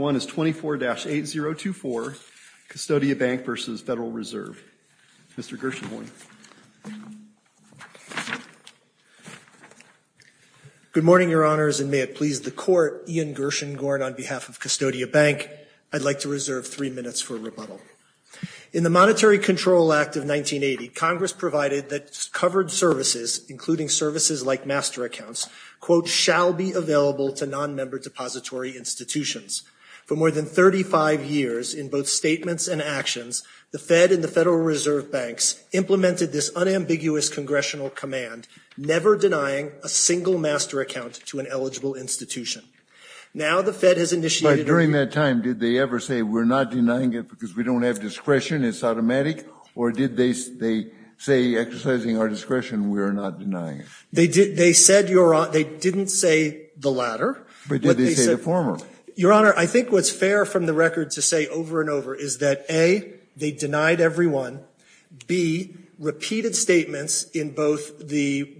24-8024, Custodia Bank v. Federal Reserve. Mr. Gershengorn. Good morning, Your Honors, and may it please the Court, Ian Gershengorn on behalf of Custodia Bank. I'd like to reserve three minutes for rebuttal. In the Monetary Control Act of 1980, Congress provided that covered services, including services like master accounts, quote, shall be available to non-member depository institutions. For more than 35 years, in both statements and actions, the Fed and the Federal Reserve Banks implemented this unambiguous congressional command, never denying a single master account to an eligible institution. Now the Fed has initiated a review. During that time, did they ever say, we're not denying it because we don't have discretion, it's automatic, or did they say, exercising our discretion, we're not denying it? They didn't say the latter. But did they say the former? Your Honor, I think what's fair from the record to say over and over is that, A, they denied everyone. B, repeated statements from both the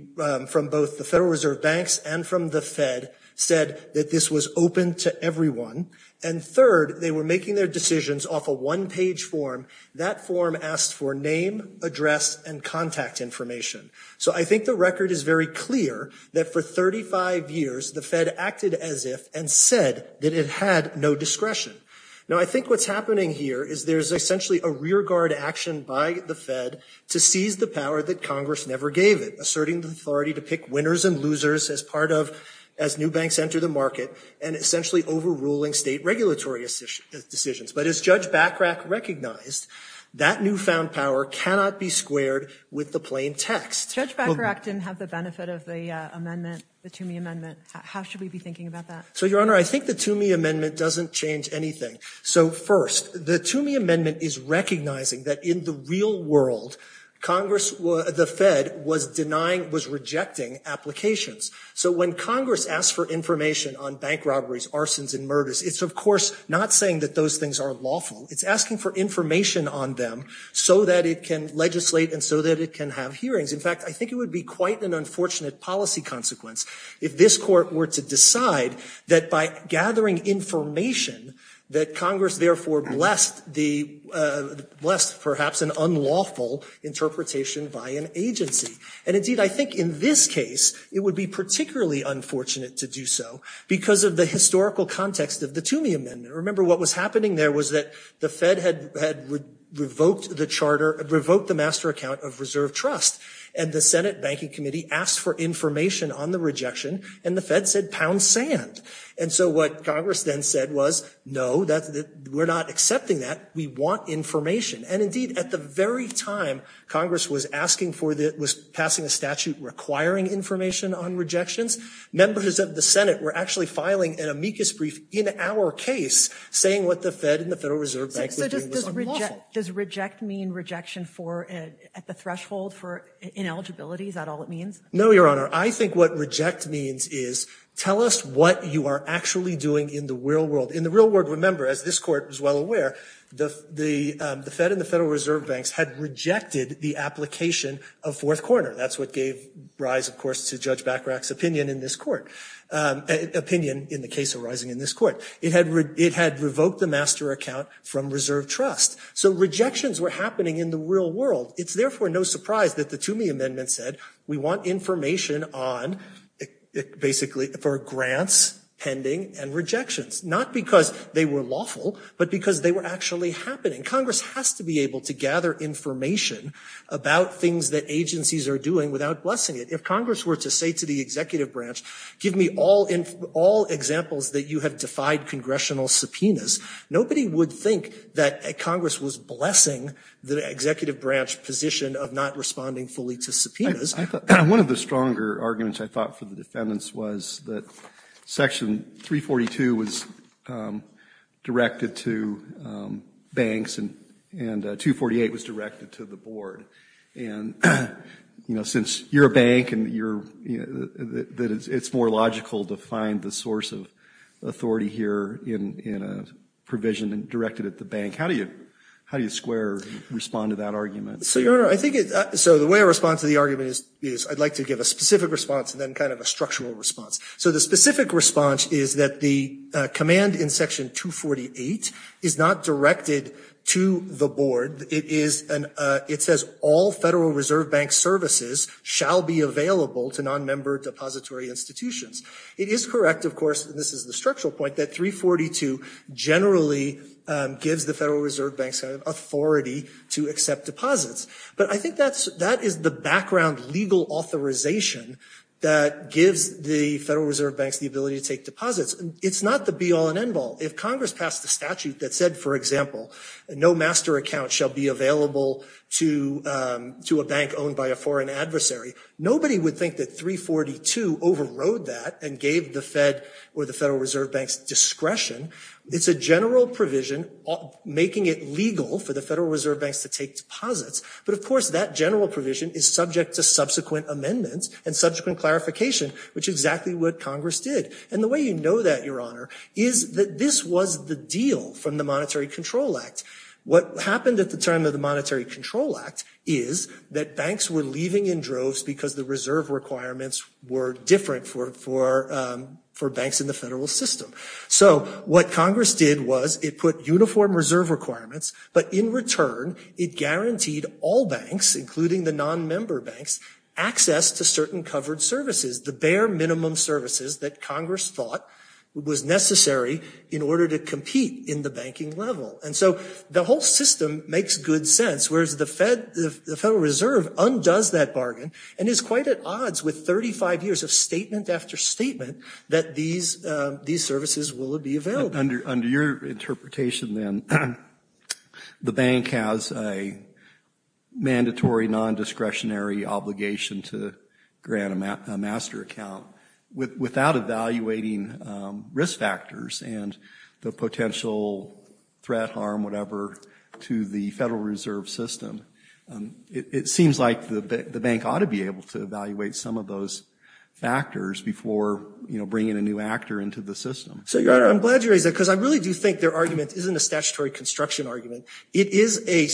Federal Reserve Banks and from the Fed said that this was open to everyone. And third, they were making their decisions off a one-page form. That form asked for name, address, and contact information. So I think the record is very clear that for 35 years, the Fed acted as if and said that it had no discretion. Now I think what's happening here is there's essentially a rearguard action by the Fed to seize the power that Congress never gave it, asserting the authority to pick winners and losers as part of, as new banks enter the market, and essentially overruling state regulatory decisions. But as Judge Bachrach recognized, that newfound power cannot be squared with the plain text. Judge Bachrach didn't have the benefit of the amendment, the Toomey Amendment. How should we be thinking about that? So, Your Honor, I think the Toomey Amendment doesn't change anything. So first, the Toomey Amendment is recognizing that in the real world, Congress, the Fed, was denying, was rejecting applications. So when Congress asks for information on bank robberies, arsons, and murders, it's, of course, not saying that those things are lawful. It's asking for information on them so that it can legislate and so that it can have hearings. In fact, I think it would be quite an unfortunate policy consequence if this Court were to decide that by gathering information, that Congress therefore blessed perhaps an unlawful interpretation by an agency. And indeed, I think in this case, it would be particularly unfortunate to do so because of the historical context of the Toomey Amendment. Remember, what was happening there was that the Fed had revoked the charter, revoked the master account of reserve trust, and the Senate Banking Committee asked for information on the rejection, and the Fed said, pound sand. And so what Congress then said was, no, we're not accepting that. We want information. And indeed, at the very time Congress was asking for the, was passing a statute requiring information on rejections, members of the Senate were actually filing an amicus brief in our case saying what the Fed and the Federal Reserve Bank were doing was unlawful. So does reject mean rejection at the threshold for ineligibility? Is that all it means? No, Your Honor. I think what reject means is, tell us what you are actually doing in the real world. In the real world, remember, as this Court was well aware, the Fed and the Federal Reserve Banks had rejected the application of Fourth Corner. That's what gave rise, of course, to Judge Bachrach's opinion in this Court, opinion in the case arising in this Court. It had revoked the master account from reserve trust. So rejections were happening in the real world. It's therefore no surprise that the Toomey Amendment said, we want information on, basically, for grants pending and rejections, not because they were unlawful, but because they were actually happening. Congress has to be able to gather information about things that agencies are doing without blessing it. If Congress were to say to the executive branch, give me all examples that you have defied congressional subpoenas, nobody would think that Congress was blessing the executive branch position of not responding fully to subpoenas. I thought one of the stronger arguments, I thought, for the defendants was that Section 342 was directed to banks and 248 was directed to the board. And since you're a bank and it's more logical to find the source of authority here in a provision directed at the bank, how do you square or respond to that argument? So, Your Honor, I think the way I respond to the argument is I'd like to give a specific response and then kind of a structural response. So the specific response is that the command in Section 248 is not directed to the board. It says, all Federal Reserve Bank services shall be available to non-member depository institutions. It is correct, of course, and this is the structural point, that 342 generally gives the Federal Reserve Bank some authority to accept deposits. But I think that is the background legal authorization that gives the Federal Reserve Banks the ability to take deposits. It's not the be-all and end-all. If Congress passed a statute that said, for example, no master account shall be available to a bank owned by a foreign adversary, nobody would think that 342 overrode that and gave the Fed or the Federal Reserve Bank's discretion. It's a general provision making it legal for the Federal Reserve Banks to take deposits. But of course, that general provision is subject to subsequent amendments and subsequent clarification, which is exactly what Congress did. And the way you know that, Your Honor, is that this was the deal from the Monetary Control Act. What happened at the time of the Monetary Control Act is that banks were leaving in droves because the reserve requirements were different for banks in the federal system. So what Congress did was it put uniform reserve requirements, but in return, it guaranteed all banks, including the non-member banks, access to certain covered services, the bare minimum services that Congress thought was necessary in order to compete in the banking level. And so the whole system makes good sense, whereas the Federal Reserve undoes that bargain and is quite at odds with 35 years of statement after statement that these services will be available. Under your interpretation, then, the bank has a mandatory non-discretionary obligation to grant a master account without evaluating risk factors and the potential threat, harm, whatever, to the Federal Reserve system. It seems like the bank ought to be able to evaluate some of those factors before, you know, bringing a new actor into the system. So, Your Honor, I'm glad you raised that because I really do think their argument isn't a statutory construction argument. It is a,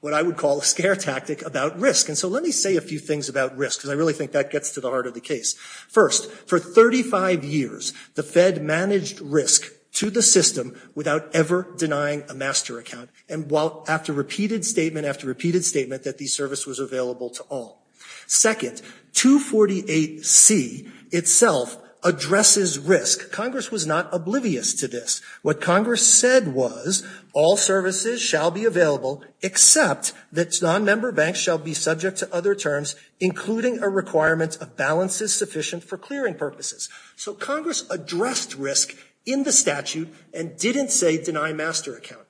what I would call, a scare tactic about risk. And so let me say a few things about risk because I really think that gets to the heart of the case. First, for 35 years, the Fed managed risk to the system without ever denying a master account, and after repeated statement after repeated statement that these services were available to all. Second, 248C itself addresses risk. Congress was not oblivious to this. What Congress said was all services shall be available except that non-member banks shall be subject to other terms, including a requirement of balances sufficient for clearing purposes. So Congress addressed risk in the statute and didn't say deny master account.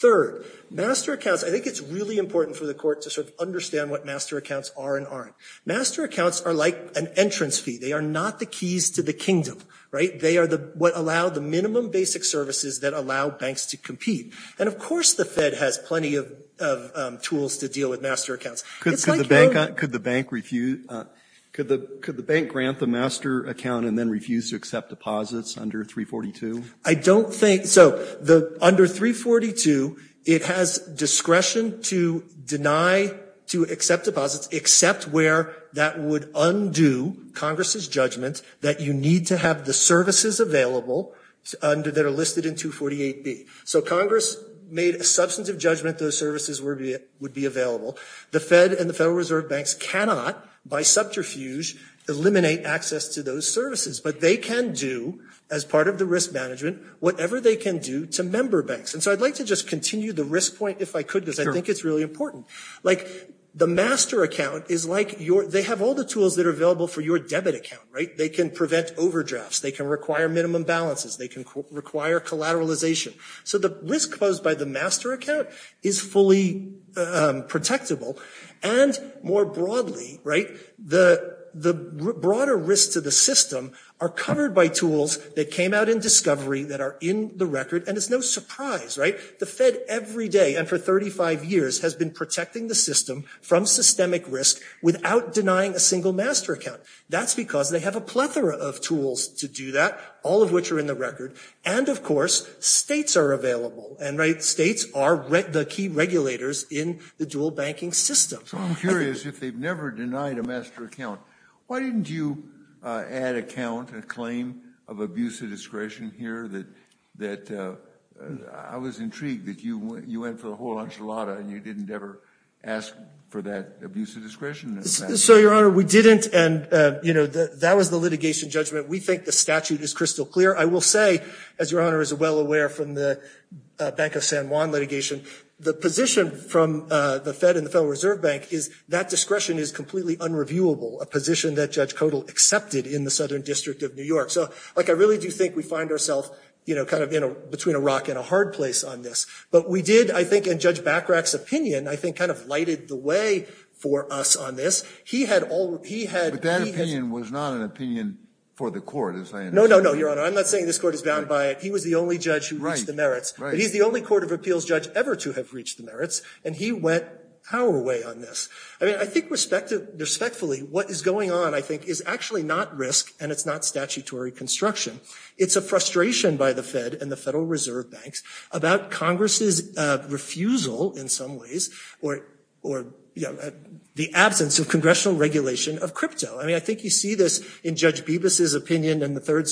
Third, master accounts, I think it's really important for the Court to sort of understand what master accounts are and aren't. Master accounts are like an entrance fee. They are not the keys to the kingdom, right? They are the, what allow the minimum basic services that allow banks to compete. And, of course, the Fed has plenty of tools to deal with master accounts. It's like your- Could the bank grant the master account and then refuse to accept deposits under 342? I don't think, so under 342, it has discretion to deny, to accept deposits except where that would undo Congress's judgment that you need to have the services available that are listed in 248B. So Congress made a substantive judgment those services would be available. The Fed and the Federal Reserve Banks cannot, by subterfuge, eliminate access to those services, but they can do, as part of the risk management, whatever they can do to member banks. And so I'd like to just continue the risk point, if I could, because I think it's really important. Like the master account is like your, they have all the tools that are available for your debit account, right? They can prevent overdrafts. They can require minimum balances. They can require collateralization. So the risk posed by the master account is fully protectable and more broadly, right, the broader risks to the system are covered by tools that came out in discovery that are in the record and it's no surprise, right? The Fed every day and for 35 years has been protecting the system from systemic risk without denying a single master account. That's because they have a plethora of tools to do that, all of which are in the record. And of course, states are available and states are the key regulators in the dual banking system. So I'm curious, if they've never denied a master account, why didn't you add account and claim of abuse of discretion here that, that I was intrigued that you went for the whole enchilada and you didn't ever ask for that abuse of discretion? So Your Honor, we didn't. And you know, that was the litigation judgment. We think the statute is crystal clear. I will say, as Your Honor is well aware from the Bank of San Juan litigation, the position from the Fed and the Federal Reserve Bank is that discretion is completely unreviewable, a position that Judge Kodal accepted in the Southern District of New York. So like, I really do think we find ourself, you know, kind of in a, between a rock and a hard place on this. But we did, I think in Judge Bachrach's opinion, I think kind of lighted the way for us on this. He had all, he had, he had... But that opinion was not an opinion for the court, as I understand. No, no, no, Your Honor. I'm not saying this court is bound by it. He was the only judge who reached the merits. Right, right. But he's the only Court of Appeals judge ever to have reached the merits, and he went our way on this. I mean, I think respectfully, what is going on, I think, is actually not risk, and it's not statutory construction. It's a frustration by the Fed and the Federal Reserve Banks about Congress's refusal, in some ways, or, you know, the absence of congressional regulation of crypto. I mean, I think you see this in Judge Bibas's opinion in the Third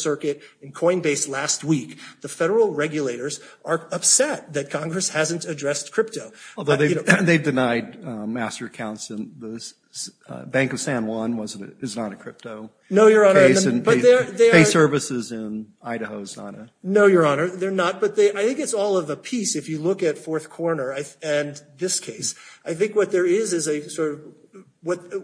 hasn't addressed crypto. Although they've denied master accounts in the Bank of San Juan was, is not a crypto case. And pay services in Idaho is not a... No, Your Honor, they're not. But they, I think it's all of a piece, if you look at Fourth Corner and this case. I think what there is, is a sort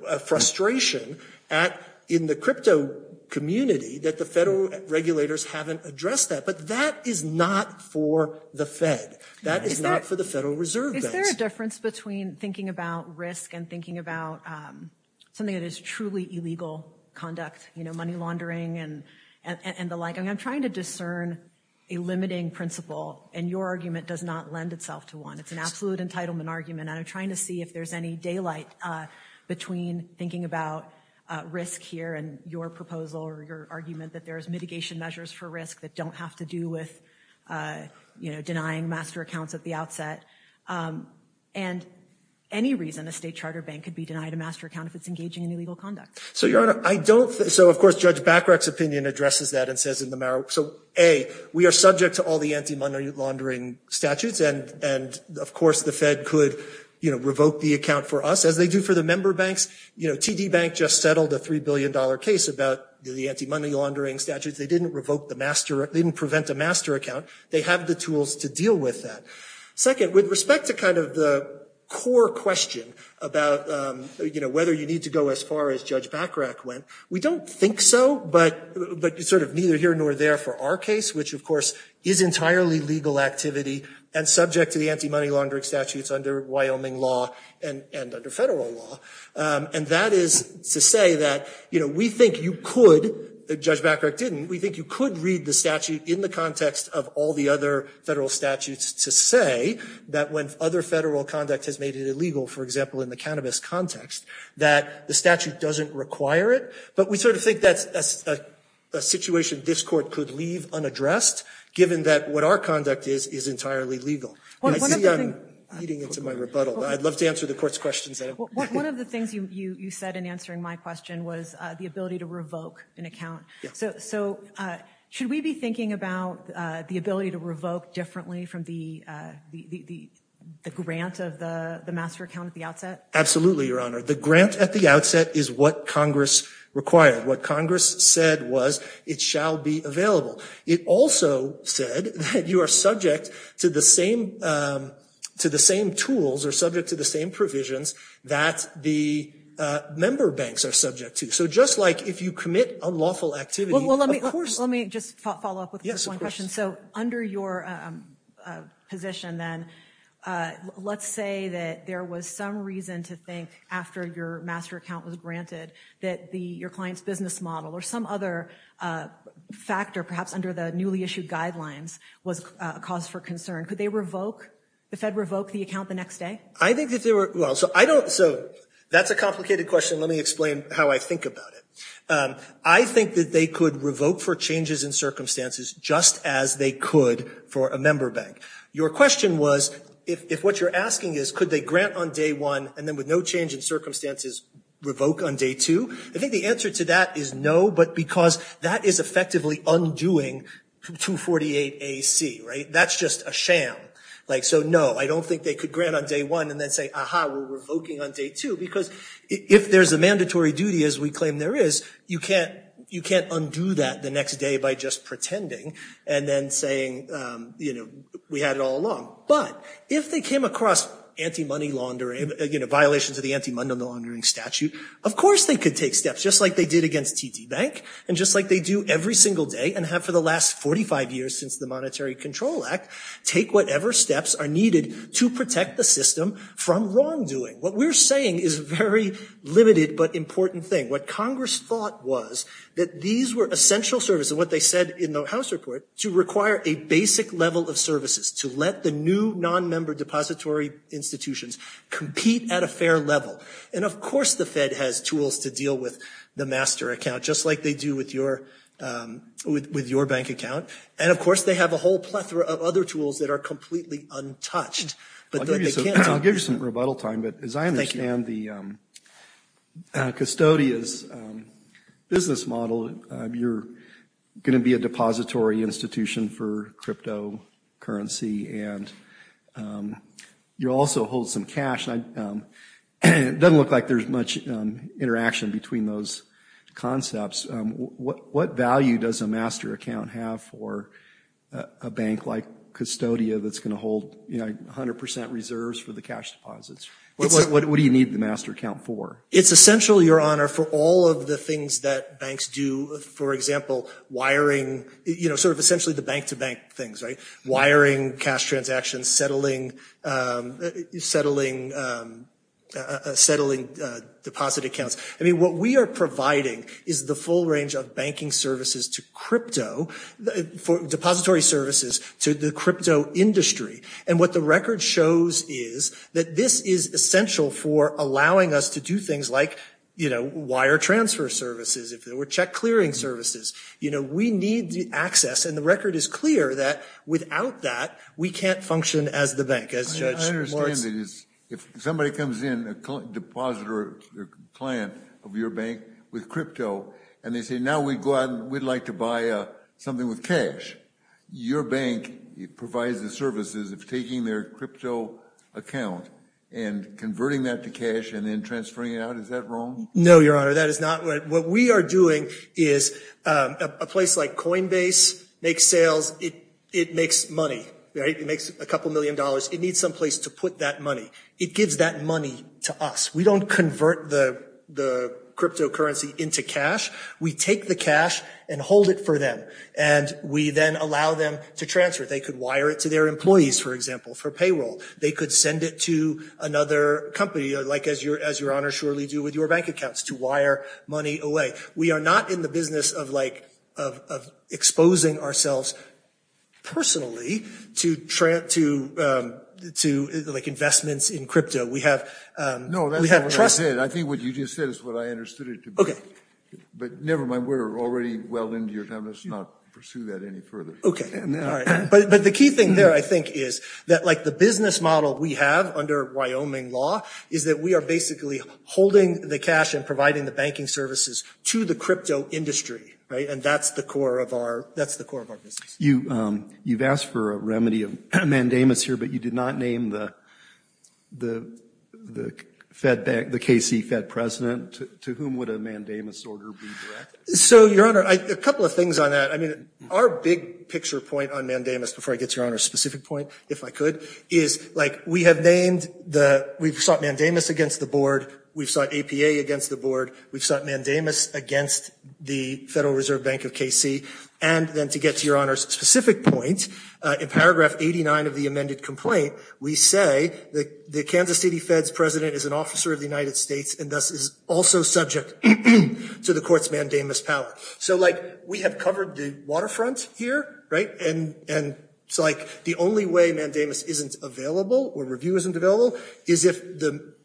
of frustration at, in the crypto community, that the Federal regulators haven't addressed that. But that is not for the Federal Fed. That is not for the Federal Reserve Banks. Is there a difference between thinking about risk and thinking about something that is truly illegal conduct, you know, money laundering and the like? I mean, I'm trying to discern a limiting principle, and your argument does not lend itself to one. It's an absolute entitlement argument, and I'm trying to see if there's any daylight between thinking about risk here and your proposal or your argument that there is mitigation measures for risk that don't have to do with, you know, denying master accounts at the outset. And any reason a state charter bank could be denied a master account if it's engaging in illegal conduct. So, Your Honor, I don't think... So, of course, Judge Bachrach's opinion addresses that and says in the... So, A, we are subject to all the anti-money laundering statutes, and, and, of course, the Fed could, you know, revoke the account for us, as they do for the member banks. You know, TD Bank just settled a $3 billion case about the anti-money laundering statutes. They didn't revoke the master... They didn't prevent a master account. They have the tools to deal with that. Second, with respect to kind of the core question about, you know, whether you need to go as far as Judge Bachrach went, we don't think so, but, but sort of neither here nor there for our case, which, of course, is entirely legal activity and subject to the anti-money laundering statutes under Wyoming law and, and under federal law. And that is to say that, you know, we think you could, Judge Bachrach didn't, we think you could read the statute in the context of all the other federal statutes to say that when other federal conduct has made it illegal, for example, in the cannabis context, that the statute doesn't require it. But we sort of think that's a situation this court could leave unaddressed, given that what our conduct is, is entirely legal. I see I'm leading into my rebuttal. I'd love to answer the court's questions. One of the things you, you said in answering my question was the ability to revoke an account. So, so should we be thinking about the ability to revoke differently from the, the, the, the grant of the, the master account at the outset? Absolutely, Your Honor. The grant at the outset is what Congress required. What Congress said was it shall be available. It also said that you are subject to the same, to the same tools or subject to the same provisions that the member banks are subject to. So just like if you commit unlawful activity, of course. Let me just follow up with this one question. So under your position then, let's say that there was some reason to think after your master account was granted that the, your client's business model or some other factor, perhaps under the newly issued guidelines, was a cause for concern. Could they revoke, the Fed revoke the account the next day? I think that they were, well, so I don't, so that's a complicated question. Let me explain how I think about it. I think that they could revoke for changes in circumstances just as they could for a member bank. Your question was, if, if what you're asking is could they grant on day one and then with no change in circumstances revoke on day two? I think the answer to that is no, but because that is effectively undoing 248 A.C., right? That's just a sham. Like, so no, I don't think they could grant on day one and then say, aha, we're revoking on day two because if there's a mandatory duty as we claim there is, you can't, you can't undo that the next day by just pretending and then saying, you know, we had it all along. But if they came across anti-money laundering, you know, violations of the anti-money laundering statute, of course they could take steps just like they did against TD Bank and just like they do every single day and have for the last 45 years since the Monetary Control Act, take whatever steps are needed to protect the system from wrongdoing. What we're saying is a very limited but important thing. What Congress thought was that these were essential services, what they said in the House report, to require a basic level of services to let the new non-member depository institutions compete at a fair level. And of course the Fed has tools to deal with the master account just like they do with your, with your bank account. And of course they have a whole plethora of other tools that are completely untouched. I'll give you some rebuttal time, but as I understand the custodians' business model, you're going to be a depository institution for cryptocurrency and you also hold some cash, and it doesn't look like there's much interaction between those concepts. What value does a master account have for a bank like Custodia that's going to hold 100% reserves for the cash deposits? What do you need the master account for? It's essential, Your Honor, for all of the things that banks do. For example, wiring, you know, sort of essentially the bank-to-bank things, right? Wiring, cash transactions, settling deposit accounts. I mean, what we are providing is the full range of banking services to crypto, depository services to the crypto industry. And what the record shows is that this is essential for allowing us to do things like, you know, wire transfer services, if there were access. And the record is clear that without that, we can't function as the bank, as Judge Morse. I understand that if somebody comes in, a depositor or client of your bank with crypto, and they say, now we'd go out and we'd like to buy something with cash, your bank provides the services of taking their crypto account and converting that to cash and then transferring it out. Is that wrong? No, Your Honor, that is not right. What we are doing is a place like Coinbase makes sales. It makes money. It makes a couple million dollars. It needs some place to put that money. It gives that money to us. We don't convert the cryptocurrency into cash. We take the cash and hold it for them. And we then allow them to transfer. They could wire it to their employees, for example, for payroll. They could send it to another company, like as Your Honor surely do with your bank accounts, to wire money away. We are not in the business of exposing ourselves personally to investments in crypto. No, that's not what I said. I think what you just said is what I understood it to be. But never mind, we're already well into your time. Let's not pursue that any further. Okay. But the key thing there, I think, is that like the business model we have under Wyoming law is that we are basically holding the cash and providing the banking services to the crypto industry, right? And that's the core of our business. You've asked for a remedy of mandamus here, but you did not name the KC Fed president. To whom would a mandamus order be directed? So, Your Honor, a couple of things on that. I mean, our big picture point on mandamus, before I get to Your Honor's specific point, if I could, is like we have named the, we've sought mandamus against the board. We've sought APA against the board. We've sought mandamus against the Federal Reserve Bank of KC. And then to get to Your Honor's specific point, in paragraph 89 of the amended complaint, we say that the Kansas City Fed's president is an officer of the United States and thus is also subject to the court's mandamus power. So like we have covered the waterfront here, right? And it's like the only way mandamus isn't available or review isn't available is if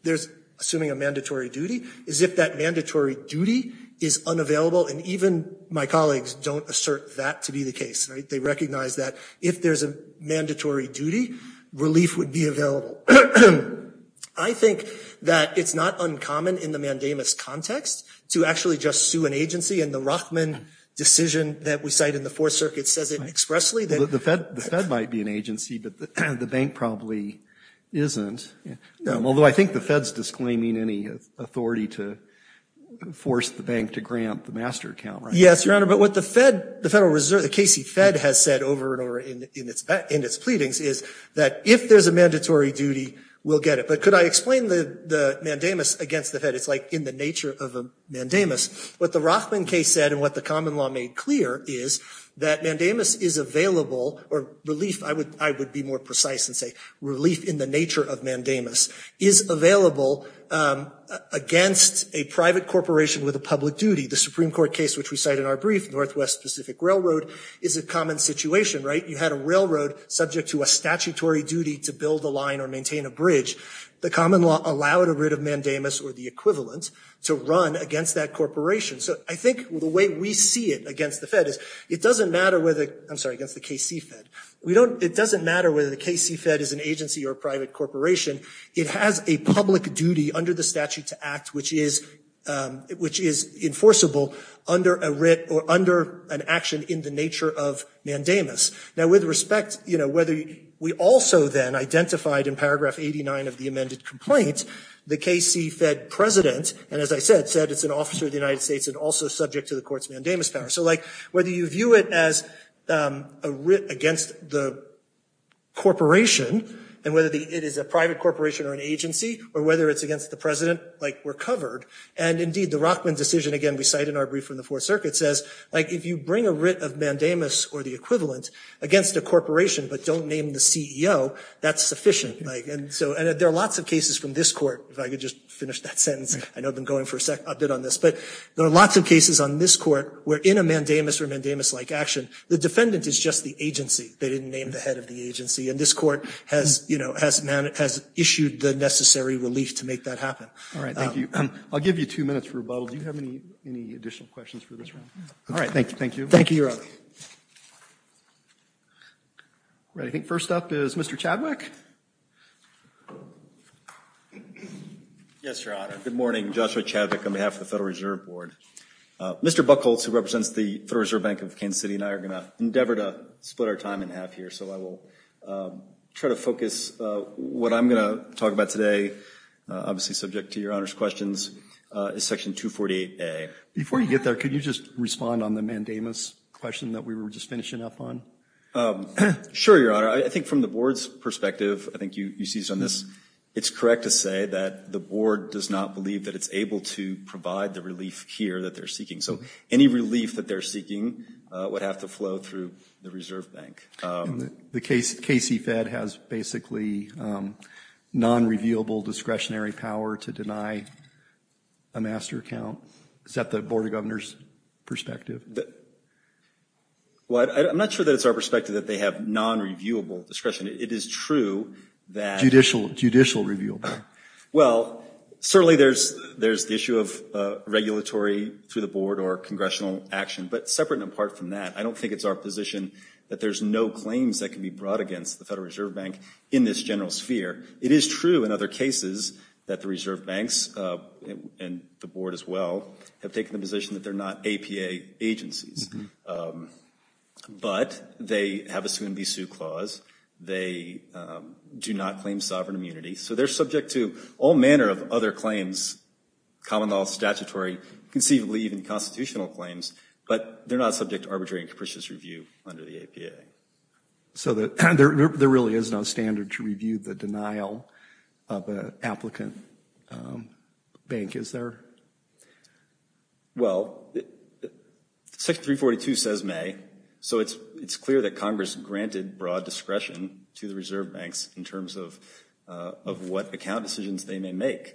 there's, assuming a mandatory duty, is if that mandatory duty is unavailable. And even my colleagues don't assert that to be the case. They recognize that if there's a mandatory duty, relief would be available. So I think that it's not uncommon in the mandamus context to actually just sue an agency. And the Rothman decision that we cite in the Fourth Circuit says it expressly. The Fed might be an agency, but the bank probably isn't. Although, I think the Fed's disclaiming any authority to force the bank to grant the master account, right? Yes, Your Honor, but what the Fed, the Federal Reserve, the KC Fed has said over and over in its pleadings is that if there's a mandatory duty, we'll get it. But could I explain the mandamus against the Fed? It's like in the nature of a mandamus. What the Rothman case said and what the common law made clear is that mandamus is available or relief, I would be more precise and say relief in the nature of mandamus, is available against a private corporation with a public duty. The Supreme Court case, which we cite in our brief, Northwest Pacific Railroad, is a common situation, right? You had a railroad subject to a statutory duty to build a line or maintain a bridge. The common law allowed a writ of mandamus or the equivalent to run against that corporation. So I think the way we see it against the Fed is it doesn't matter whether, I'm sorry, against the KC Fed. We don't, it doesn't matter whether the KC Fed is an agency or a private corporation. It has a public duty under the statute to act, which is, which is enforceable under a writ or under an action in the nature of mandamus. Now with respect, you know, whether we also then identified in paragraph 89 of the amended complaint the KC Fed president. And as I said, said it's an officer of the United States and also subject to the court's mandamus power. So like whether you view it as a writ against the corporation and whether it is a private corporation or an agency or whether it's against the president, like we're covered. And indeed the Rothman decision, again, we cite in our brief from the Fourth Circuit, says like if you bring a writ of mandamus or the equivalent, against a corporation, but don't name the CEO, that's sufficient. Like, and so, and there are lots of cases from this court, if I could just finish that sentence, I know I've been going for a bit on this. But there are lots of cases on this court where in a mandamus or mandamus-like action, the defendant is just the agency. They didn't name the head of the agency. And this court has, you know, has, has issued the necessary relief to make that happen. All right, thank you. I'll give you two minutes for rebuttal. Do you have any, any additional questions for this one? All right. Thank you. Thank you. Thank you, Your Honor. All right, I think first up is Mr. Chadwick. Yes, Your Honor. Good morning. Joshua Chadwick on behalf of the Federal Reserve Board. Mr. Buchholz, who represents the Federal Reserve Bank of Kansas City, and I are going to endeavor to split our time in half here. So I will try to focus, what I'm going to talk about today, obviously subject to Your Honor's questions, is Section 248A. Before you get there, could you just respond on the mandamus question that we were just finishing up on? Sure, Your Honor. I think from the Board's perspective, I think you, you see this on this, it's correct to say that the Board does not believe that it's able to provide the relief here that they're seeking. So any relief that they're seeking would have to flow through the Reserve Bank. The KC, KC Fed has basically non-revealable discretionary power to deny a master account. Is that the Board of Governors perspective? Well, I'm not sure that it's our perspective that they have non-reviewable discretion. It is true that. Judicial, judicial review. Well, certainly there's, there's the issue of regulatory through the Board or congressional action, but separate and apart from that, I don't think it's our position that there's no claims that can be brought against the Federal Reserve Bank in this general sphere. It is true in other cases that the Reserve Banks, and the Board as well, have taken the position that they're not APA agencies. But they have a soon-be-sue clause. They do not claim sovereign immunity. So they're subject to all manner of other claims, common law, statutory, conceivably even constitutional claims, but they're not subject to arbitrary and capricious review under the APA. So that there really is no standard to review the denial of an applicant bank, is there? Well, Section 342 says may, so it's, it's clear that Congress granted broad discretion to the Reserve Banks in terms of of what account decisions they may make.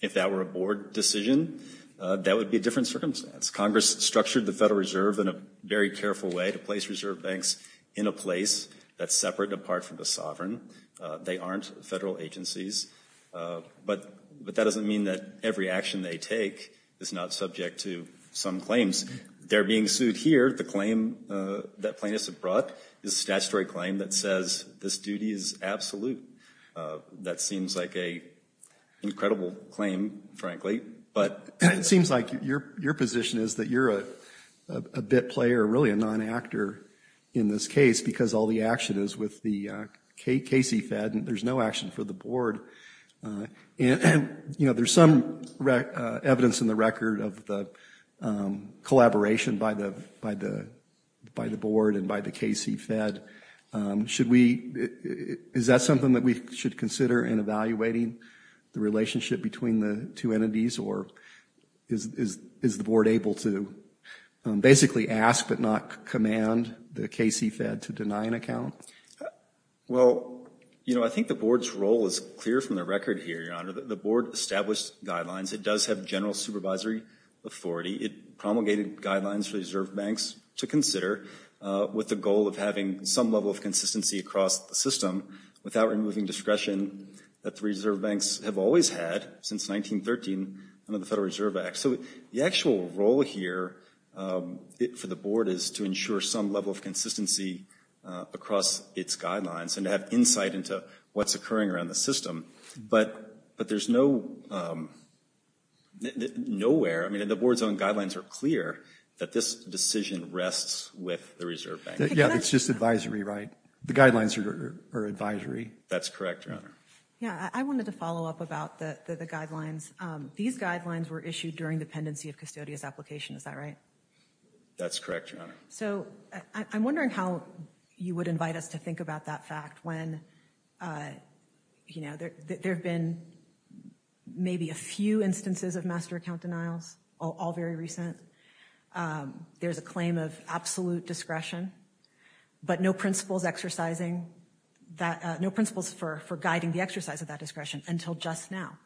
If that were a Board decision, that would be a different circumstance. Congress structured the Federal Reserve in a very careful way to place Reserve Banks in a place that's separate and apart from the sovereign. They aren't federal agencies. But, but that doesn't mean that every action they take is not subject to some claims. They're being sued here. The claim that plaintiffs have brought is a statutory claim that says this duty is absolute. That seems like a incredible claim, frankly, but. It seems like your, your position is that you're a bit player, really a non-actor in this case, because all the action is with the KC Fed, and there's no action for the Board. And, you know, there's some evidence in the record of the collaboration by the, by the, by the Board and by the KC Fed. Should we, is that something that we should consider in evaluating the relationship between the two entities, or is, is, is the Board able to basically ask but not command the KC Fed to deny an account? Well, you know, I think the Board's role is clear from the record here, Your Honor. The Board established guidelines. It does have general supervisory authority. It promulgated guidelines for Reserve Banks to consider with the goal of having some level of consistency across the system without removing discretion that the Reserve Banks have always had since 1913 under the Federal Reserve Act. So, the actual role here for the Board is to ensure some level of consistency across its guidelines and to have insight into what's occurring around the system, but, but there's no, nowhere, I mean, the Board's own guidelines are clear that this decision rests with the Reserve Bank. Yeah, it's just advisory, right? The guidelines are advisory. That's correct, Your Honor. Yeah, I wanted to follow up about the, the guidelines. These guidelines were issued during the pendency of custodious application. Is that right? That's correct, Your Honor. So, I'm wondering how you would invite us to think about that fact when, you know, there, there have been maybe a few instances of master account denials, all very recent. There's a claim of absolute discretion, but no principles exercising that, no principles for, for guiding the exercise of that discretion until just now.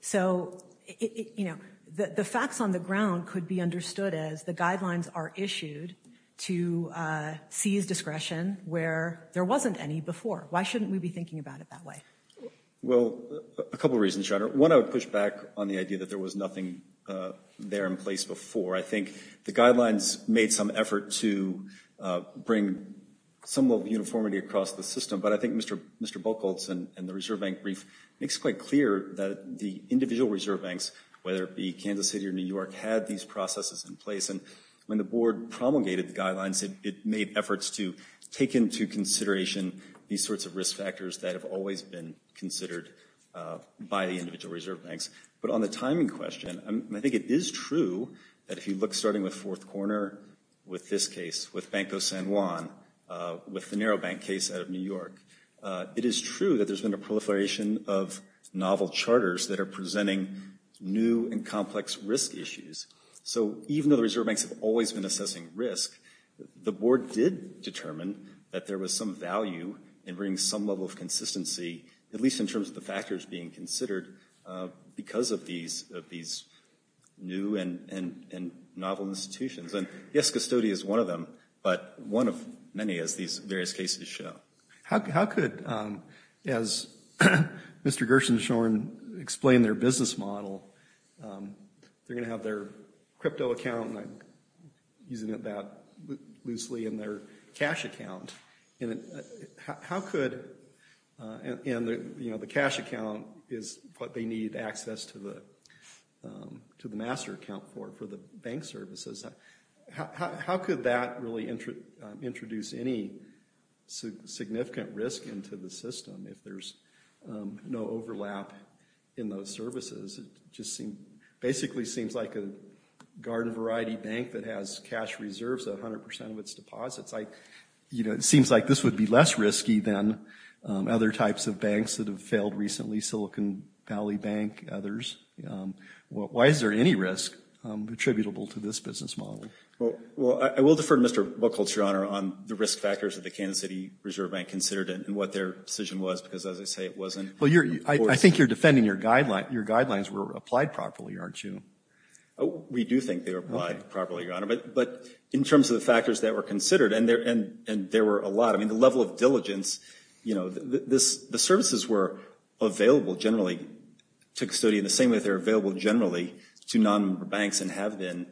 So, it, you know, the, the facts on the ground could be understood as the guidelines are issued to seize discretion where there wasn't any before. Why shouldn't we be thinking about it that way? Well, a couple reasons, Your Honor. One, I would push back on the idea that there was nothing there in place before. I think the guidelines made some effort to bring some level of uniformity across the system, but I think Mr., Mr. Buchholz and the Reserve Bank brief makes quite clear that the individual Reserve Banks, whether it be Kansas City or New York, had these processes in place, and when the Board promulgated the guidelines, it made efforts to take into consideration these sorts of risk factors that have always been considered by the individual Reserve Banks. But on the timing question, I think it is true that if you look, starting with Fourth Corner, with this case, with Banco San Juan, with the narrow bank case out of New York, it is true that there's been a proliferation of novel charters that are presenting new and complex risk issues. So even though the Reserve Banks have always been assessing risk, the Board did determine that there was some value in bringing some level of consistency, at least in terms of the factors being considered, because of these, of these new and, and, and novel institutions. And yes, custody is one of them, but one of many, as these various cases show. How could, as Mr. Gershon-Shorn explained their business model, they're going to have their crypto account, and I'm using it that loosely, and their cash account. And how could, and, you know, the cash account is what they need access to the, to the master account for, for the bank services. How could that really introduce any significant risk into the system, if there's no overlap in those services? It just seemed, basically seems like a garden variety bank that has cash reserves of 100% of its deposits. I, you know, it seems like this would be less risky than other types of banks that have failed recently, Silicon Valley Bank, others. Why is there any risk attributable to this business model? Well, I will defer to Mr. Buchholz, Your Honor, on the risk factors of the Kansas City Reserve Bank considered, and what their decision was, because as I say, it wasn't. Well, you're, I think you're defending your guideline, your guidelines were applied properly, aren't you? We do think they were applied properly, Your Honor, but, but in terms of the factors that were considered, and there, and, and there were a lot, I mean, the level of diligence, you know, this, the services were available, generally, to custodians, the same way they're available, generally, to non-member banks, and have been,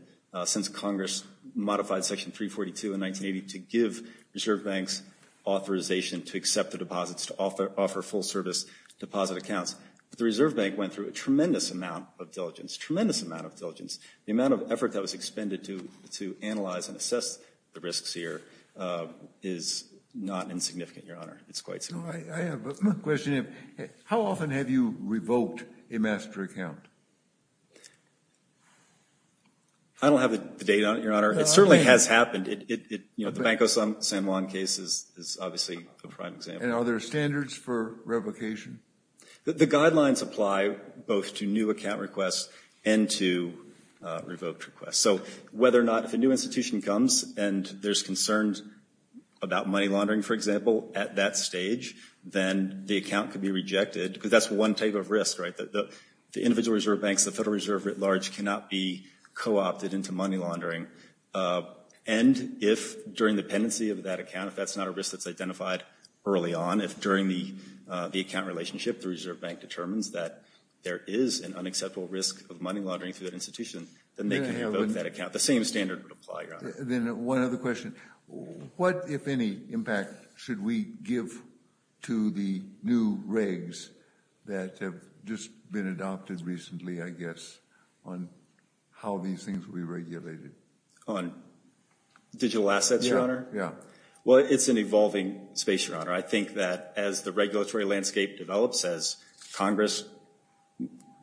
since Congress modified Section 342 in 1980, to give reserve banks authorization to accept the deposits, to offer, offer full service deposit accounts. The Reserve Bank went through a tremendous amount of diligence, tremendous amount of diligence. The amount of effort that was expended to, to analyze and assess the risks here is not insignificant, Your Honor, it's quite significant. How often have you revoked a master account? I don't have the date on it, Your Honor. It certainly has happened. It, it, you know, the Banco San Juan case is, is obviously a prime example. And are there standards for revocation? The guidelines apply both to new account requests and to revoked requests. So, whether or not, if a new institution comes, and there's concerns about money laundering, for example, at that stage, then the account could be rejected, because that's one type of risk, right? The, the individual reserve banks, the Federal Reserve, at large, cannot be co-opted into money laundering. And if, during the pendency of that account, if that's not a risk that's identified early on, if during the, the account relationship, the Reserve Bank determines that there is an unacceptable risk of money laundering through that institution, then they can revoke that account. The same standard would apply, Your Honor. Then, one other question. What, if any, impact should we give to the new regs that have just been adopted recently, I guess, on how these things will be regulated? On digital assets, Your Honor? Yeah. Well, it's an evolving space, Your Honor. I think that, as the regulatory landscape develops, as Congress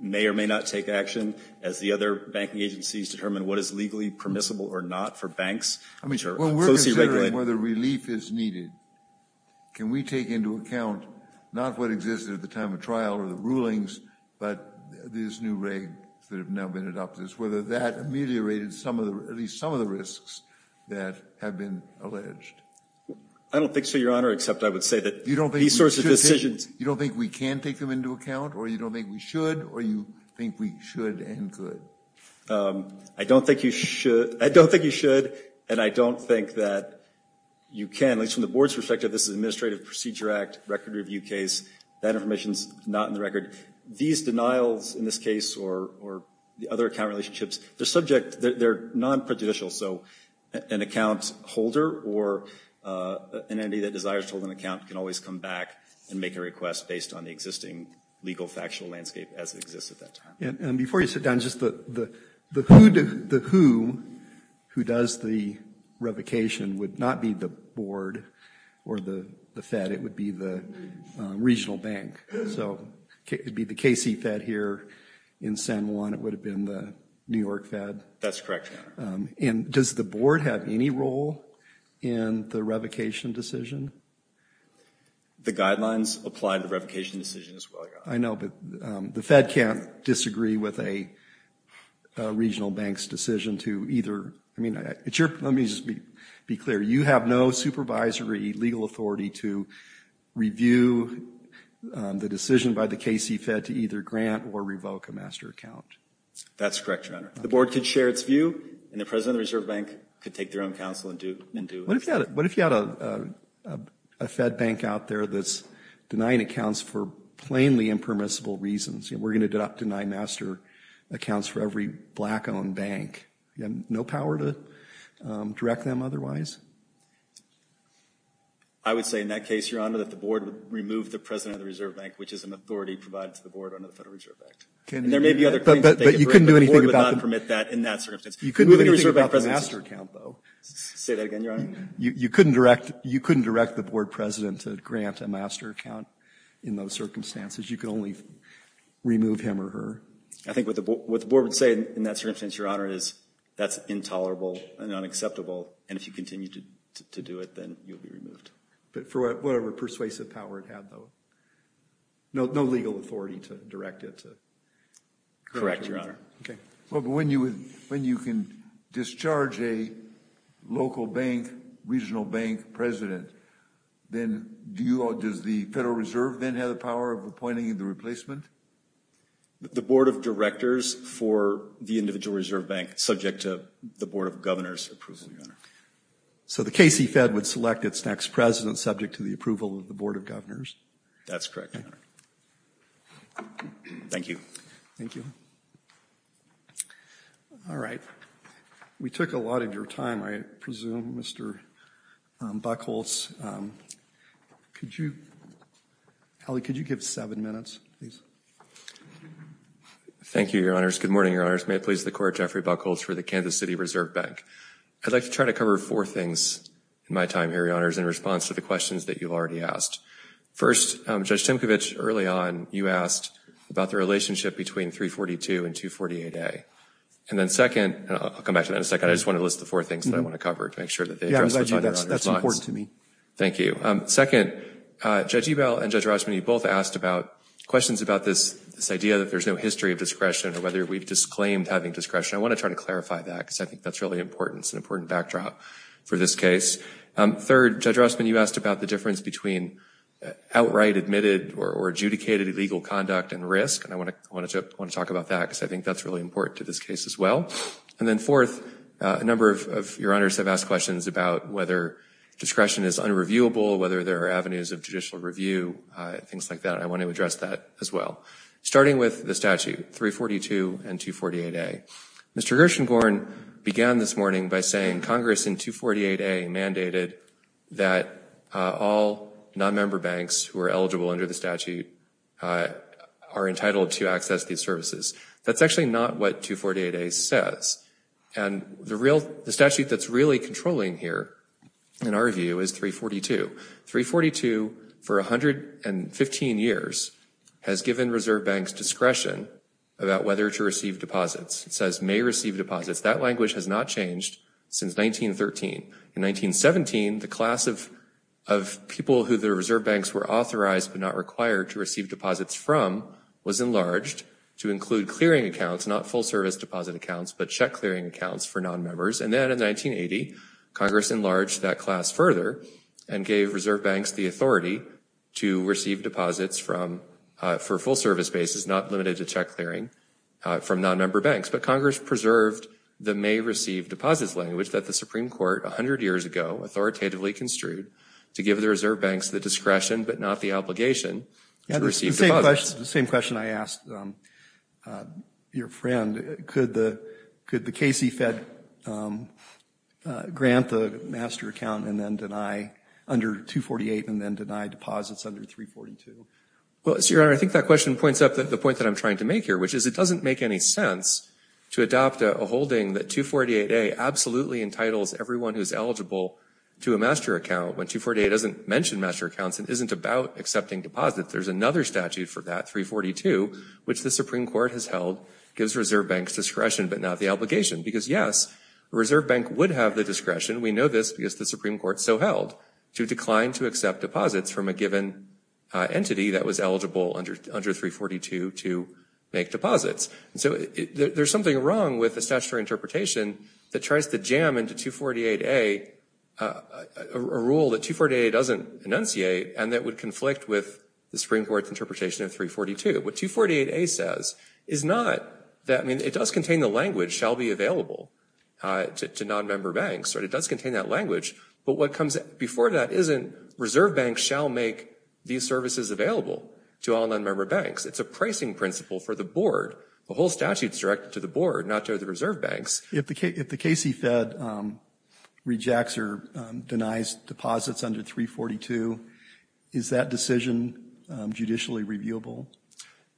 may or may not take action, as the other banking agencies determine what is legally permissible or not for banks, which are closely regulated. Well, we're considering whether relief is needed. Can we take into account, not what existed at the time of trial or the rulings, but these new regs that have now been adopted, whether that ameliorated some of the, at least some of the risks that have been alleged? I don't think so, Your Honor, except I would say that these sorts of decisions... You don't think we can take them into account, or you don't think we should, or you think we should and could? I don't think you should. I don't think you should, and I don't think that you can. At least from the Board's perspective, this is an Administrative Procedure Act record review case. That information's not in the record. These denials, in this case, or the other account relationships, they're subject, they're non-prejudicial. So, an account holder or an entity that desires to hold an account can always come back and make a request based on the existing legal factual landscape as it exists at that time. And before you sit down, just the who who does the revocation would not be the Board or the Fed. It would be the regional bank. So, it'd be the KC Fed here in San Juan. It would have been the New York Fed. That's correct, Your Honor. And does the Board have any role in the revocation decision? The guidelines apply to the revocation decision as well, Your Honor. I know, but the Fed can't disagree with a regional bank's decision to either... I mean, let me just be clear. You have no supervisory legal authority to review the decision by the KC Fed to either grant or revoke a master account. That's correct, Your Honor. The Board could share its view and the President of the Reserve Bank could take their own counsel and do it. What if you had a Fed bank out there that's denying accounts for plainly impermissible reasons? We're going to deny master accounts for every black-owned bank. You have no power to direct them otherwise? I would say in that case, Your Honor, that the Board would remove the President of the Reserve Bank, which is an authority provided to the bank. But the Board would not permit that in that circumstance. You couldn't do anything about the master account, though. Say that again, Your Honor. You couldn't direct the Board President to grant a master account in those circumstances. You could only remove him or her. I think what the Board would say in that circumstance, Your Honor, is that's intolerable and unacceptable. And if you continue to do it, then you'll be removed. But for whatever persuasive power it had, though. No legal authority to direct it. Correct, Your Honor. Okay. Well, but when you can discharge a local bank, regional bank President, then does the Federal Reserve then have the power of appointing the replacement? The Board of Directors for the individual Reserve Bank, subject to the Board of Governors' approval, Your Honor. So the KC Fed would select its next president subject to the approval of the Board of Governors? That's correct, Your Honor. Thank you. Thank you. All right. We took a lot of your time, I presume, Mr. Buckholz. Could you... Howie, could you give seven minutes, please? Thank you, Your Honors. Good morning, Your Honors. May it please the Court, Jeffrey Buckholz for the Kansas City Reserve Bank. I'd like to try to cover four things in my time here, Your Honors, in response to the questions that you've already asked. First, Judge Timkovich, early on, you asked about the relationship between 342 and 248A, and then second, and I'll come back to that in a second, I just want to list the four things that I want to cover to make sure that they address the five Your Honors' lines. Thank you. Second, Judge Ebel and Judge Rossman, you both asked about questions about this idea that there's no history of discretion or whether we've disclaimed having discretion. I want to try to clarify that because I think that's really important. It's an important backdrop for this case. Third, Judge Rossman, you asked about the difference between outright admitted or adjudicated illegal conduct and risk, and I want to talk about that because I think that's really important to this case as well. And then fourth, a number of Your Honors have asked questions about whether discretion is unreviewable, whether there are avenues of judicial review, things like that. I want to address that as well, starting with the statute, 342 and 248A. Mr. Gershengorn began this morning by saying Congress in 248A mandated that all non-member banks who are eligible under the statute are entitled to access these services. That's actually not what 248A says, and the statute that's really controlling here, in our view, is 342. 342, for 115 years, has given reserve banks discretion about whether to receive deposits. It says may receive deposits. That language has not changed since 1913. In 1917, the class of people who the reserve banks were authorized but not required to receive deposits from was enlarged to include clearing accounts, not full-service deposit accounts, but check clearing accounts for non-members. And then in 1980, Congress enlarged that class further and gave reserve banks the authority to receive deposits from, for full-service basis, not limited to check clearing from non-member banks. But Congress preserved the may receive deposits language that the Supreme Court a hundred years ago authoritatively construed to give the reserve banks the discretion, but not the obligation, to receive deposits. The same question I asked your friend. Could the KC Fed grant the master account and then deny, under 248, and then deny deposits under 342? Well, it's your honor, I think that question points up the point that I'm trying to make here, which is it doesn't make any sense to adopt a holding that 248A absolutely entitles everyone who's eligible to a master account when 248A doesn't mention master accounts and isn't about accepting deposits. There's another statute for that, 342, which the Supreme Court has held gives reserve banks discretion, but not the obligation. Because yes, a reserve bank would have the discretion, we know this because the Supreme Court so held, to decline to accept deposits from a given entity that was eligible under 342 to make deposits. And so there's something wrong with the statutory interpretation that tries to jam into 248A, a rule that 248A doesn't enunciate and that would conflict with the Supreme Court's interpretation of 342. What 248A says is not that, I mean, it does contain the language shall be available to non-member banks, or it does contain that language, but what comes before that isn't reserve banks shall make these services available to all non-member banks. It's a pricing principle for the board. The whole statute is directed to the board, not to the reserve banks. If the KC Fed rejects or denies deposits under 342, is that decision judicially reviewable?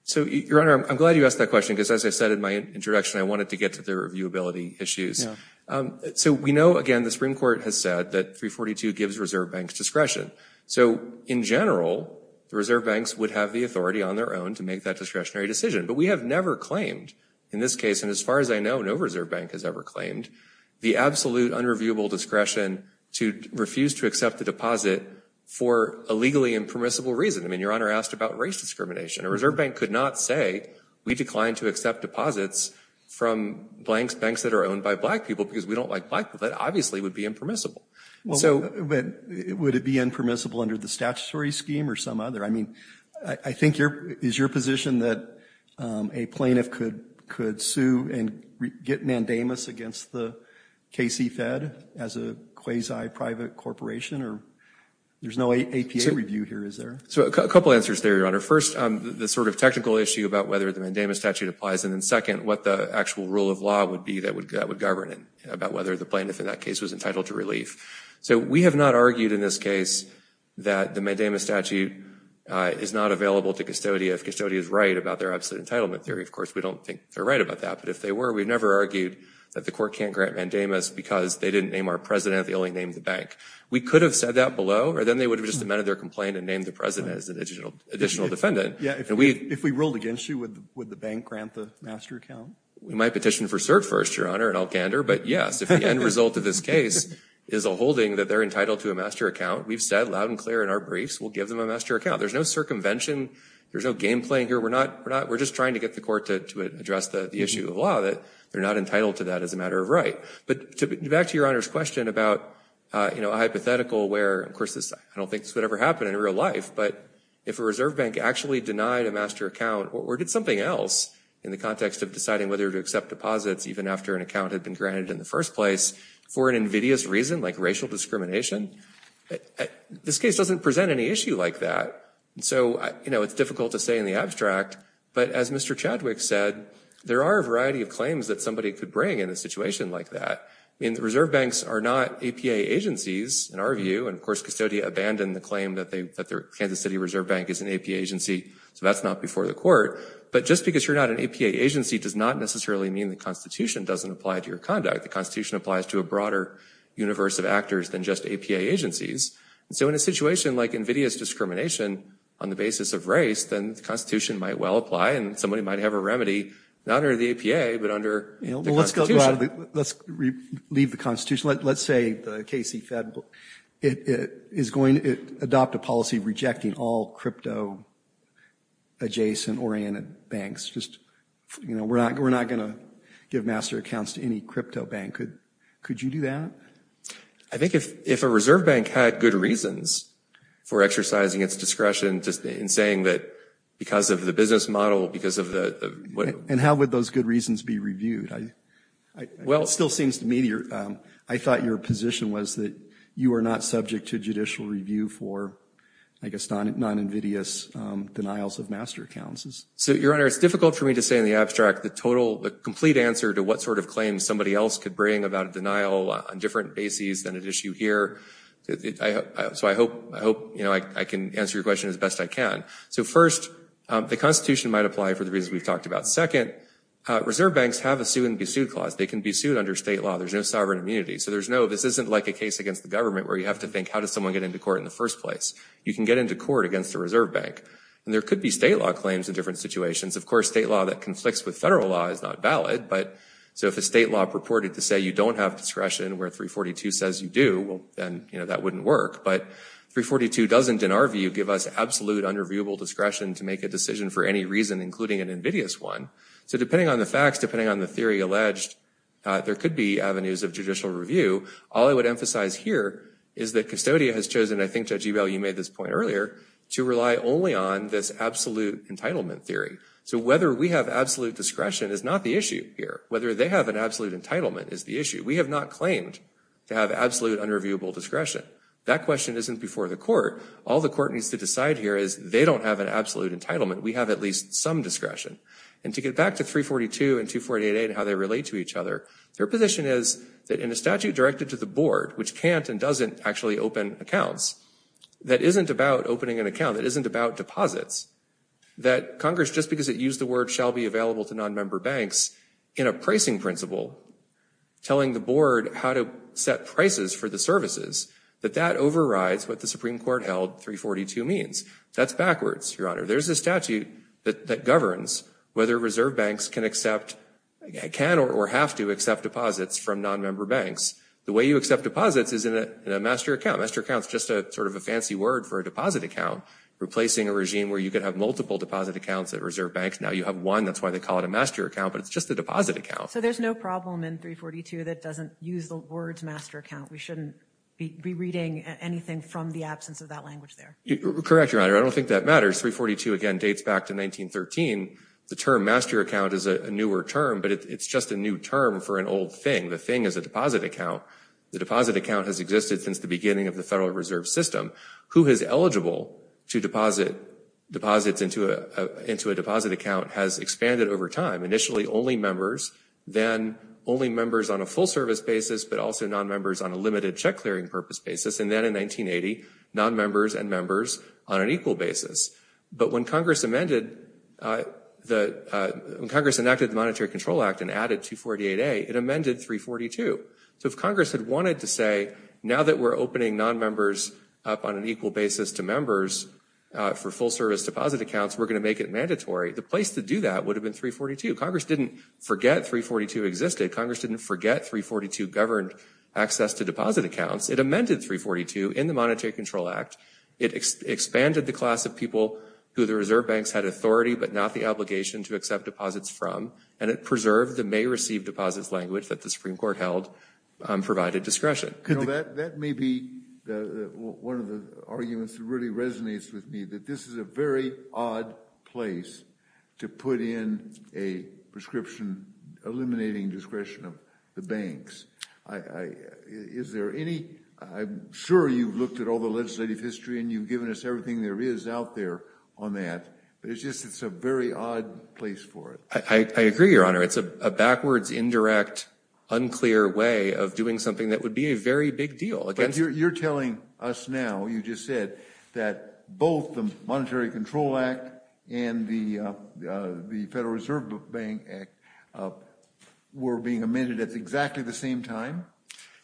So, Your Honor, I'm glad you asked that question because as I said in my introduction, I wanted to get to the reviewability issues. So we know, again, the Supreme Court has said that 342 gives reserve banks discretion. So, in general, the reserve banks would have the authority on their own to make that discretionary decision. But we have never claimed, in this case, and as far as I know no reserve bank has ever claimed, the absolute unreviewable discretion to refuse to accept the deposit for a legally impermissible reason. I mean, Your Honor asked about race discrimination. A reserve bank could not say we declined to accept deposits from blanks banks that are owned by black people because we don't like black people. That obviously would be impermissible. So, would it be impermissible under the statutory scheme or some other? I mean, I think here is your position that a plaintiff could sue and get mandamus against the KC Fed as a quasi private corporation, or there's no APA review here, is there? So, a couple answers there, Your Honor. First, the sort of technical issue about whether the mandamus statute applies, and then second, what the actual rule of law would be that would govern it, about whether the plaintiff in that case was entitled to relief. So, we have not argued in this case that the mandamus statute is not available to custodia. If custodia is right about their absolute entitlement theory, of course, we don't think they're right about that. But if they were, we've never argued that the court can't grant mandamus because they didn't name our president, they only named the bank. We could have said that below, or then they would have just amended their complaint and named the president as an additional defendant. Yeah, if we ruled against you, would the bank grant the master account? We might petition for cert first, Your Honor, and I'll gander. But yes, if the end result of this case is a holding that they're entitled to a master account, we've said loud and clear in our briefs, we'll give them a master account. There's no circumvention. There's no game-playing here. We're just trying to get the court to address the issue of law that they're not entitled to that as a matter of right. But back to Your Honor's question about, you know, a hypothetical where, of course, I don't think this would ever happen in real life, but if a reserve bank actually denied a master account, or did something else in the context of deciding whether to accept deposits, even after an account had been granted in the first place, for an invidious reason like racial discrimination, this case doesn't present any issue like that. So, you know, it's difficult to say in the abstract, but as Mr. Chadwick said, there are a variety of claims that somebody could bring in a situation like that. I mean, the reserve banks are not APA agencies in our view, and of course, Custodia abandoned the claim that the Kansas City Reserve Bank is an APA agency, so that's not before the court. But just because you're not an APA agency does not necessarily mean the Constitution doesn't apply to your conduct. The Constitution applies to a broader universe of actors than just APA agencies. So, in a situation like invidious discrimination on the basis of race, then the Constitution might well apply, and somebody might have a remedy, not under the APA, but under the Constitution. Let's leave the Constitution. Let's say the KC Fed is going to adopt a policy rejecting all crypto adjacent oriented banks. Just, you know, we're not going to give master accounts to any crypto bank. Could you do that? I think if a reserve bank had good reasons for exercising its discretion, just in saying that because of the business model, because of the... And how would those good reasons be reviewed? Well, it still seems to me, I thought your position was that you are not subject to judicial review for, I guess, non-invidious denials of master accounts. So, your honor, it's difficult for me to say in the abstract the total, the complete answer to what sort of claims somebody else could bring about a denial on different bases than an issue here. So, I hope, you know, I can answer your question as best I can. So, first, the Constitution might apply for the reasons we've talked about. Second, reserve banks have a sue-and-be-sued clause. They can be sued under state law. There's no sovereign immunity. So, there's no, this isn't like a case against the government where you have to think how does someone get into court in the first place? You can get into court against a reserve bank. And there could be state law claims in different situations. Of course, state law that conflicts with federal law is not valid. But, so, if a state law purported to say you don't have discretion where 342 says you do, well, then, you know, that wouldn't work. But, 342 doesn't, in our view, give us absolute under viewable discretion to make a decision for any reason, including an invidious one. So, depending on the facts, depending on the theory alleged, there could be avenues of judicial review. All I would emphasize here is that custodian has chosen, I think Judge Ebel, you made this point earlier, to rely only on this absolute entitlement theory. So, whether we have absolute discretion is not the issue here. Whether they have an absolute entitlement is the issue. We have not claimed to have absolute under viewable discretion. That question isn't before the court. All the court needs to decide here is they don't have an absolute entitlement. We have at least some discretion. And to get back to 342 and 248a and how they relate to each other, their position is that in a statute directed to the board, which can't and doesn't actually open accounts, that isn't about opening an account, that isn't about deposits, that Congress, just because it used the word shall be available to non-member banks, in a pricing principle, telling the board how to set prices for the services, that that overrides what the Supreme Court held 342 means. That's backwards, Your Honor. There's a statute that governs whether reserve banks can accept, can or have to accept deposits from non-member banks. The way you accept deposits is in a master account. Master account's just a sort of a fancy word for a deposit account, replacing a regime where you could have multiple deposit accounts at reserve banks. Now you have one, that's why they call it a master account, but it's just a deposit account. So there's no problem in 342 that doesn't use the words master account. We shouldn't be rereading anything from the absence of that language there. Correct, Your Honor. I don't think that matters. 342, again, dates back to 1913. The term master account is a newer term, but it's just a new term for an old thing. The thing is a deposit account. The deposit account has existed since the beginning of the Federal Reserve System. Who is eligible to deposit deposits into a deposit account has expanded over time. Initially, only members, then only members on a full service basis, but also non-members on a limited check clearing purpose basis, and then in 1980, non-members and members on an equal basis. But when Congress amended, when Congress enacted the Monetary Control Act and added 248A, it amended 342. So if Congress had wanted to say, now that we're opening non-members up on an equal basis to members for full service deposit accounts, we're going to make it mandatory, the place to do that would have been 342. Congress didn't forget 342 existed. Congress didn't forget 342 governed access to deposit accounts. It amended 342 in the Monetary Control Act. It expanded the class of people who the reserve banks had authority, but not the obligation to accept deposits from, and it preserved the may receive deposits language that the Supreme Court held provided discretion. That may be one of the arguments that really resonates with me, that this is a very odd place to put in a prescription eliminating discretion of the banks. I'm sure you've looked at all the legislative history, and you've given us everything there is out there on that, but it's just it's a very odd place for it. I agree, Your Honor. It's a backwards, indirect, unclear way of doing something that would be a very big deal. You're telling us now, you just said, that both the Monetary Control Act and the Federal Reserve Bank Act were being amended at exactly the same time?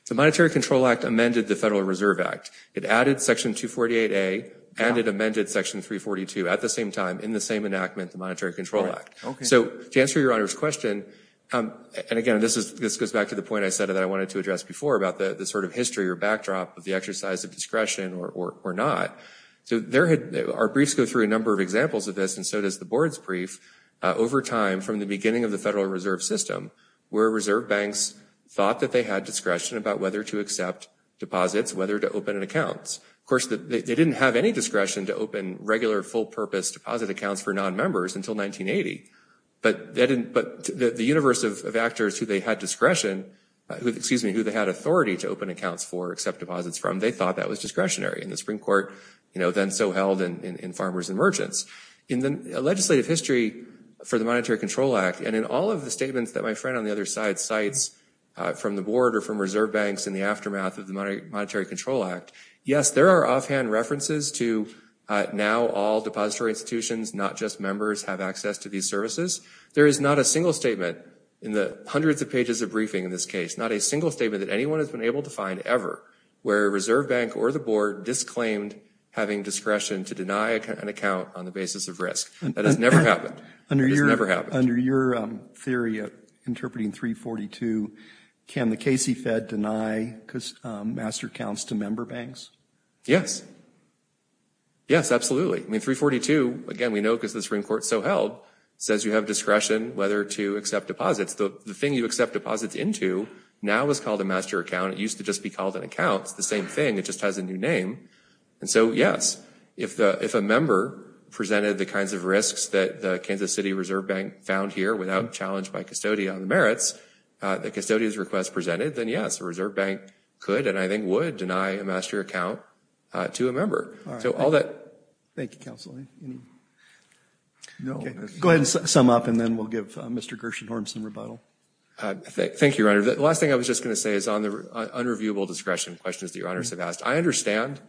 The Monetary Control Act amended the Federal Reserve Act. It added Section 248A, and it amended Section 342 at the same time in the same enactment, the Monetary Control Act. Okay, so to answer your Honor's question, and again, this goes back to the point I said that I wanted to address before about the sort of history or backdrop of the exercise of discretion or not. So, our briefs go through a number of examples of this, and so does the board's brief. Over time, from the beginning of the Federal Reserve System, where reserve banks thought that they had discretion about whether to accept deposits, whether to open an account. Of course, they didn't have any discretion to open regular, full-purpose deposit accounts for non-members until 1980, but the universe of actors who they had discretion, excuse me, who they had authority to open accounts for, accept deposits from, they thought that was discretionary. In the Supreme Court, you know, then so held in Farmers and Merchants. In the legislative history for the Monetary Control Act, and in all of the statements that my friend on the other side cites from the board or from reserve banks in the aftermath of the Monetary Control Act, yes, there are offhand references to now all depository institutions, not just members, have access to these services. There is not a single statement in the hundreds of pages of briefing in this case, not a single statement that anyone has been able to find ever, where a reserve bank or the board disclaimed having discretion to deny an account on the basis of risk. That has never happened. Under your theory of interpreting 342, can the Casey Fed deny master accounts to member banks? Yes. Yes, absolutely. I mean 342, again, we know because the Supreme Court so held, says you have discretion whether to accept deposits. The thing you accept deposits into now is called a master account. It used to just be called an account. It's the same thing. It just has a new name. And so, yes, if a member presented the kinds of risks that the Kansas City Reserve Bank found here without challenge by custodian on the merits, the custodian's request presented, then yes, a reserve bank could, and I think would, deny a master account to a member. So all that. Thank you, counsel. Go ahead and sum up, and then we'll give Mr. Gershenhorn some rebuttal. Thank you, Your Honor. The last thing I was just going to say is on the unreviewable discretion questions that Your Honors have asked. I understand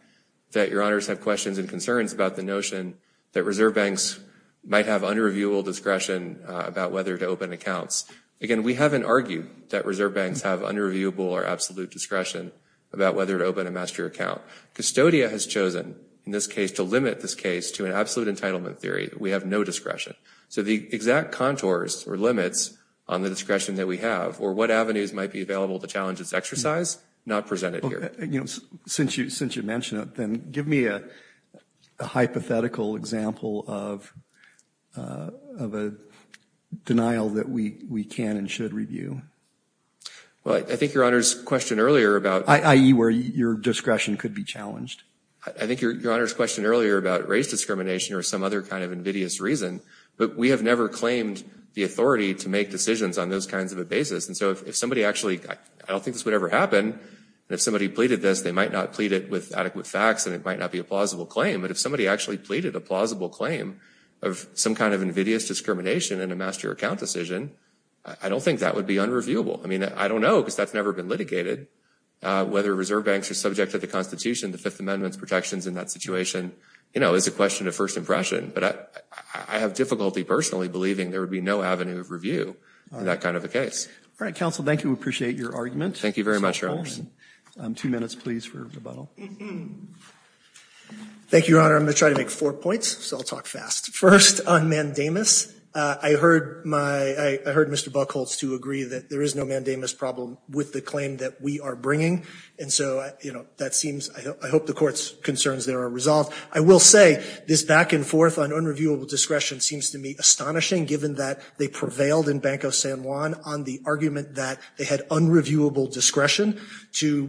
that Your Honors have questions and concerns about the notion that reserve banks might have unreviewable discretion about whether to open accounts. Again, we haven't argued that reserve banks have unreviewable or absolute discretion about whether to open a master account. Custodia has chosen, in this case, to limit this case to an absolute entitlement theory. We have no discretion. So the exact contours or limits on the discretion that we have, or what avenues might be available to challenge this exercise, not presented here. You know, since you, since you mentioned it, then give me a hypothetical example of of a denial that we, we can and should review. Well, I think Your Honor's question earlier about... I.e. where your discretion could be challenged. I think Your Honor's question earlier about race discrimination or some other kind of invidious reason but we have never claimed the authority to make decisions on those kinds of a basis. And so if somebody actually, I don't think this would ever happen, and if somebody pleaded this, they might not plead it with adequate facts and it might not be a plausible claim. But if somebody actually pleaded a plausible claim of some kind of invidious discrimination in a master account decision, I don't think that would be unreviewable. I mean, I don't know because that's never been litigated. Whether reserve banks are subject to the Constitution, the Fifth Amendment's protections in that situation, you know, is a question of first impression. But I have difficulty personally believing there would be no avenue of review in that kind of a case. All right, counsel. Thank you. Appreciate your argument. Thank you very much, Your Honor. Two minutes, please, for rebuttal. Thank you, Your Honor. I'm gonna try to make four points, so I'll talk fast. First, on mandamus. I heard my, I heard Mr. Buchholz to agree that there is no mandamus problem with the claim that we are bringing. And so, you know, that seems, I hope the Court's concerns there are resolved. I will say this back-and-forth on unreviewable discretion seems to me astonishing given that they prevailed in Banco San Juan on the argument that they had unreviewable discretion to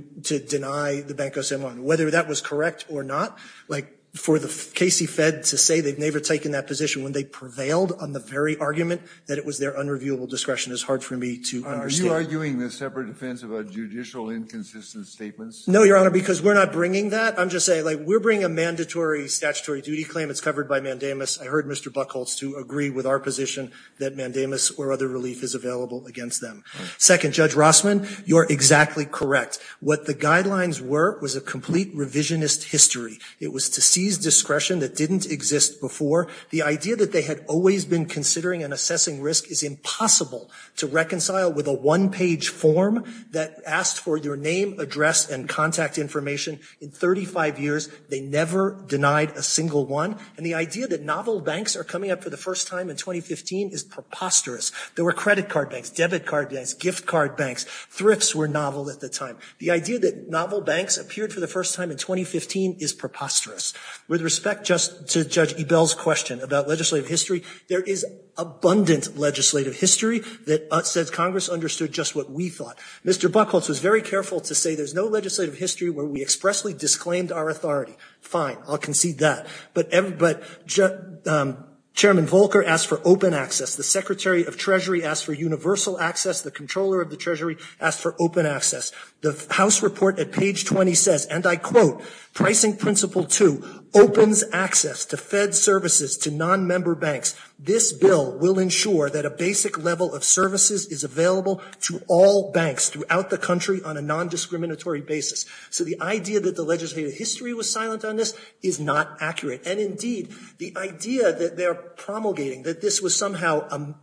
deny the Banco San Juan. Whether that was correct or not, like, for the Casey Fed to say they've never taken that position when they prevailed on the very argument that it was their unreviewable discretion is hard for me to understand. Are you arguing the separate defense of a judicial inconsistent statements? No, Your Honor, because we're not bringing that. I'm just saying, like, we're bringing a mandatory statutory duty claim. It's covered by mandamus. I heard Mr. Buchholz to agree with our position that mandamus or other relief is available against them. Second, Judge Rossman, you're exactly correct. What the guidelines were was a complete revisionist history. It was to seize discretion that didn't exist before. The idea that they had always been considering and assessing risk is impossible to reconcile with a one-page form that asked for their name, address, and contact information in 35 years. They never denied a single one. And the idea that novel banks are coming up for the first time in 2015 is preposterous. There were credit card banks, debit card banks, gift card banks. Thrifts were novel at the time. The idea that novel banks appeared for the first time in 2015 is preposterous. With respect just to Judge Ebell's question about legislative history, there is abundant legislative history that says Congress understood just what we thought. Mr. Buchholz was very careful to say there's no legislative history where we expressly disclaimed our authority. Fine, I'll concede that. But Chairman Volcker asked for open access. The Secretary of Treasury asked for universal access. The Comptroller of the Treasury asked for open access. The House report at page 20 says, and I quote, Pricing Principle 2 opens access to Fed services to non-member banks. This bill will ensure that a basic level of services is available to all banks throughout the country on a non-discriminatory basis. So the idea that the legislative history was silent on this is not accurate. And indeed, the idea that they're promulgating that this was somehow an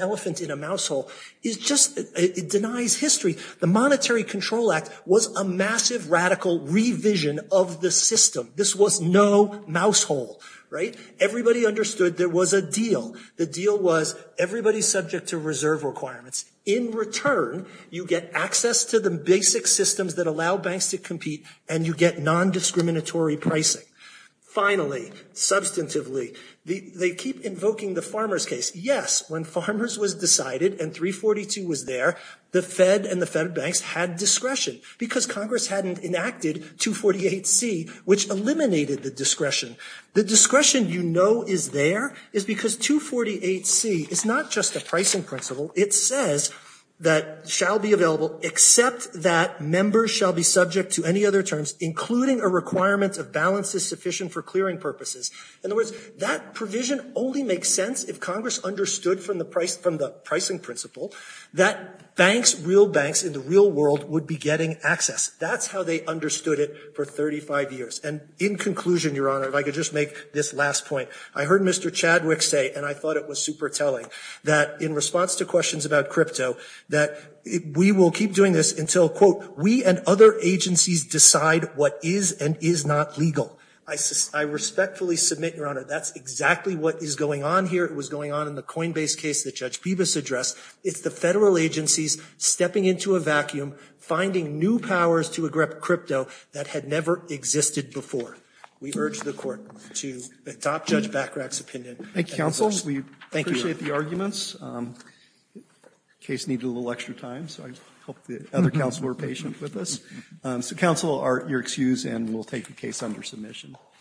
elephant in a mouse hole is just, it denies history. The Monetary Control Act was a massive radical revision of the system. This was no mouse hole, right? Everybody understood there was a deal. The deal was everybody's subject to reserve requirements. In return, you get access to the basic systems that allow banks to compete and you get non-discriminatory pricing. Finally, substantively, they keep invoking the farmers case. Yes, when farmers was decided and 342 was there, the Fed and the Fed banks had discretion because Congress hadn't enacted 248C, which eliminated the discretion. The discretion you know is there is because 248C is not just a pricing principle. It says that shall be available except that members shall be subject to any other terms, including a requirement of balances sufficient for clearing purposes. In other words, that provision only makes sense if Congress understood from the pricing principle that banks, real banks in the real world would be getting access. That's how they understood it for 35 years. And in conclusion, Your Honor, if I could just make this last point. I heard Mr. Chadwick say, and I thought it was super telling, that in response to questions about crypto, that we will keep doing this until, quote, we and other agencies decide what is and is not legal. I respectfully submit, Your Honor, that's exactly what is going on here. It was going on in the Coinbase case that Judge Peebus addressed. It's the Federal agencies stepping into a vacuum, finding new powers to egrep crypto that had never existed before. We urge the Court to adopt Judge Bachrach's opinion. Thank you, counsel. We appreciate the arguments. The case needed a little extra time, so I hope the other counsel were patient with us. Counsel, you're excused, and we'll take the case under submission.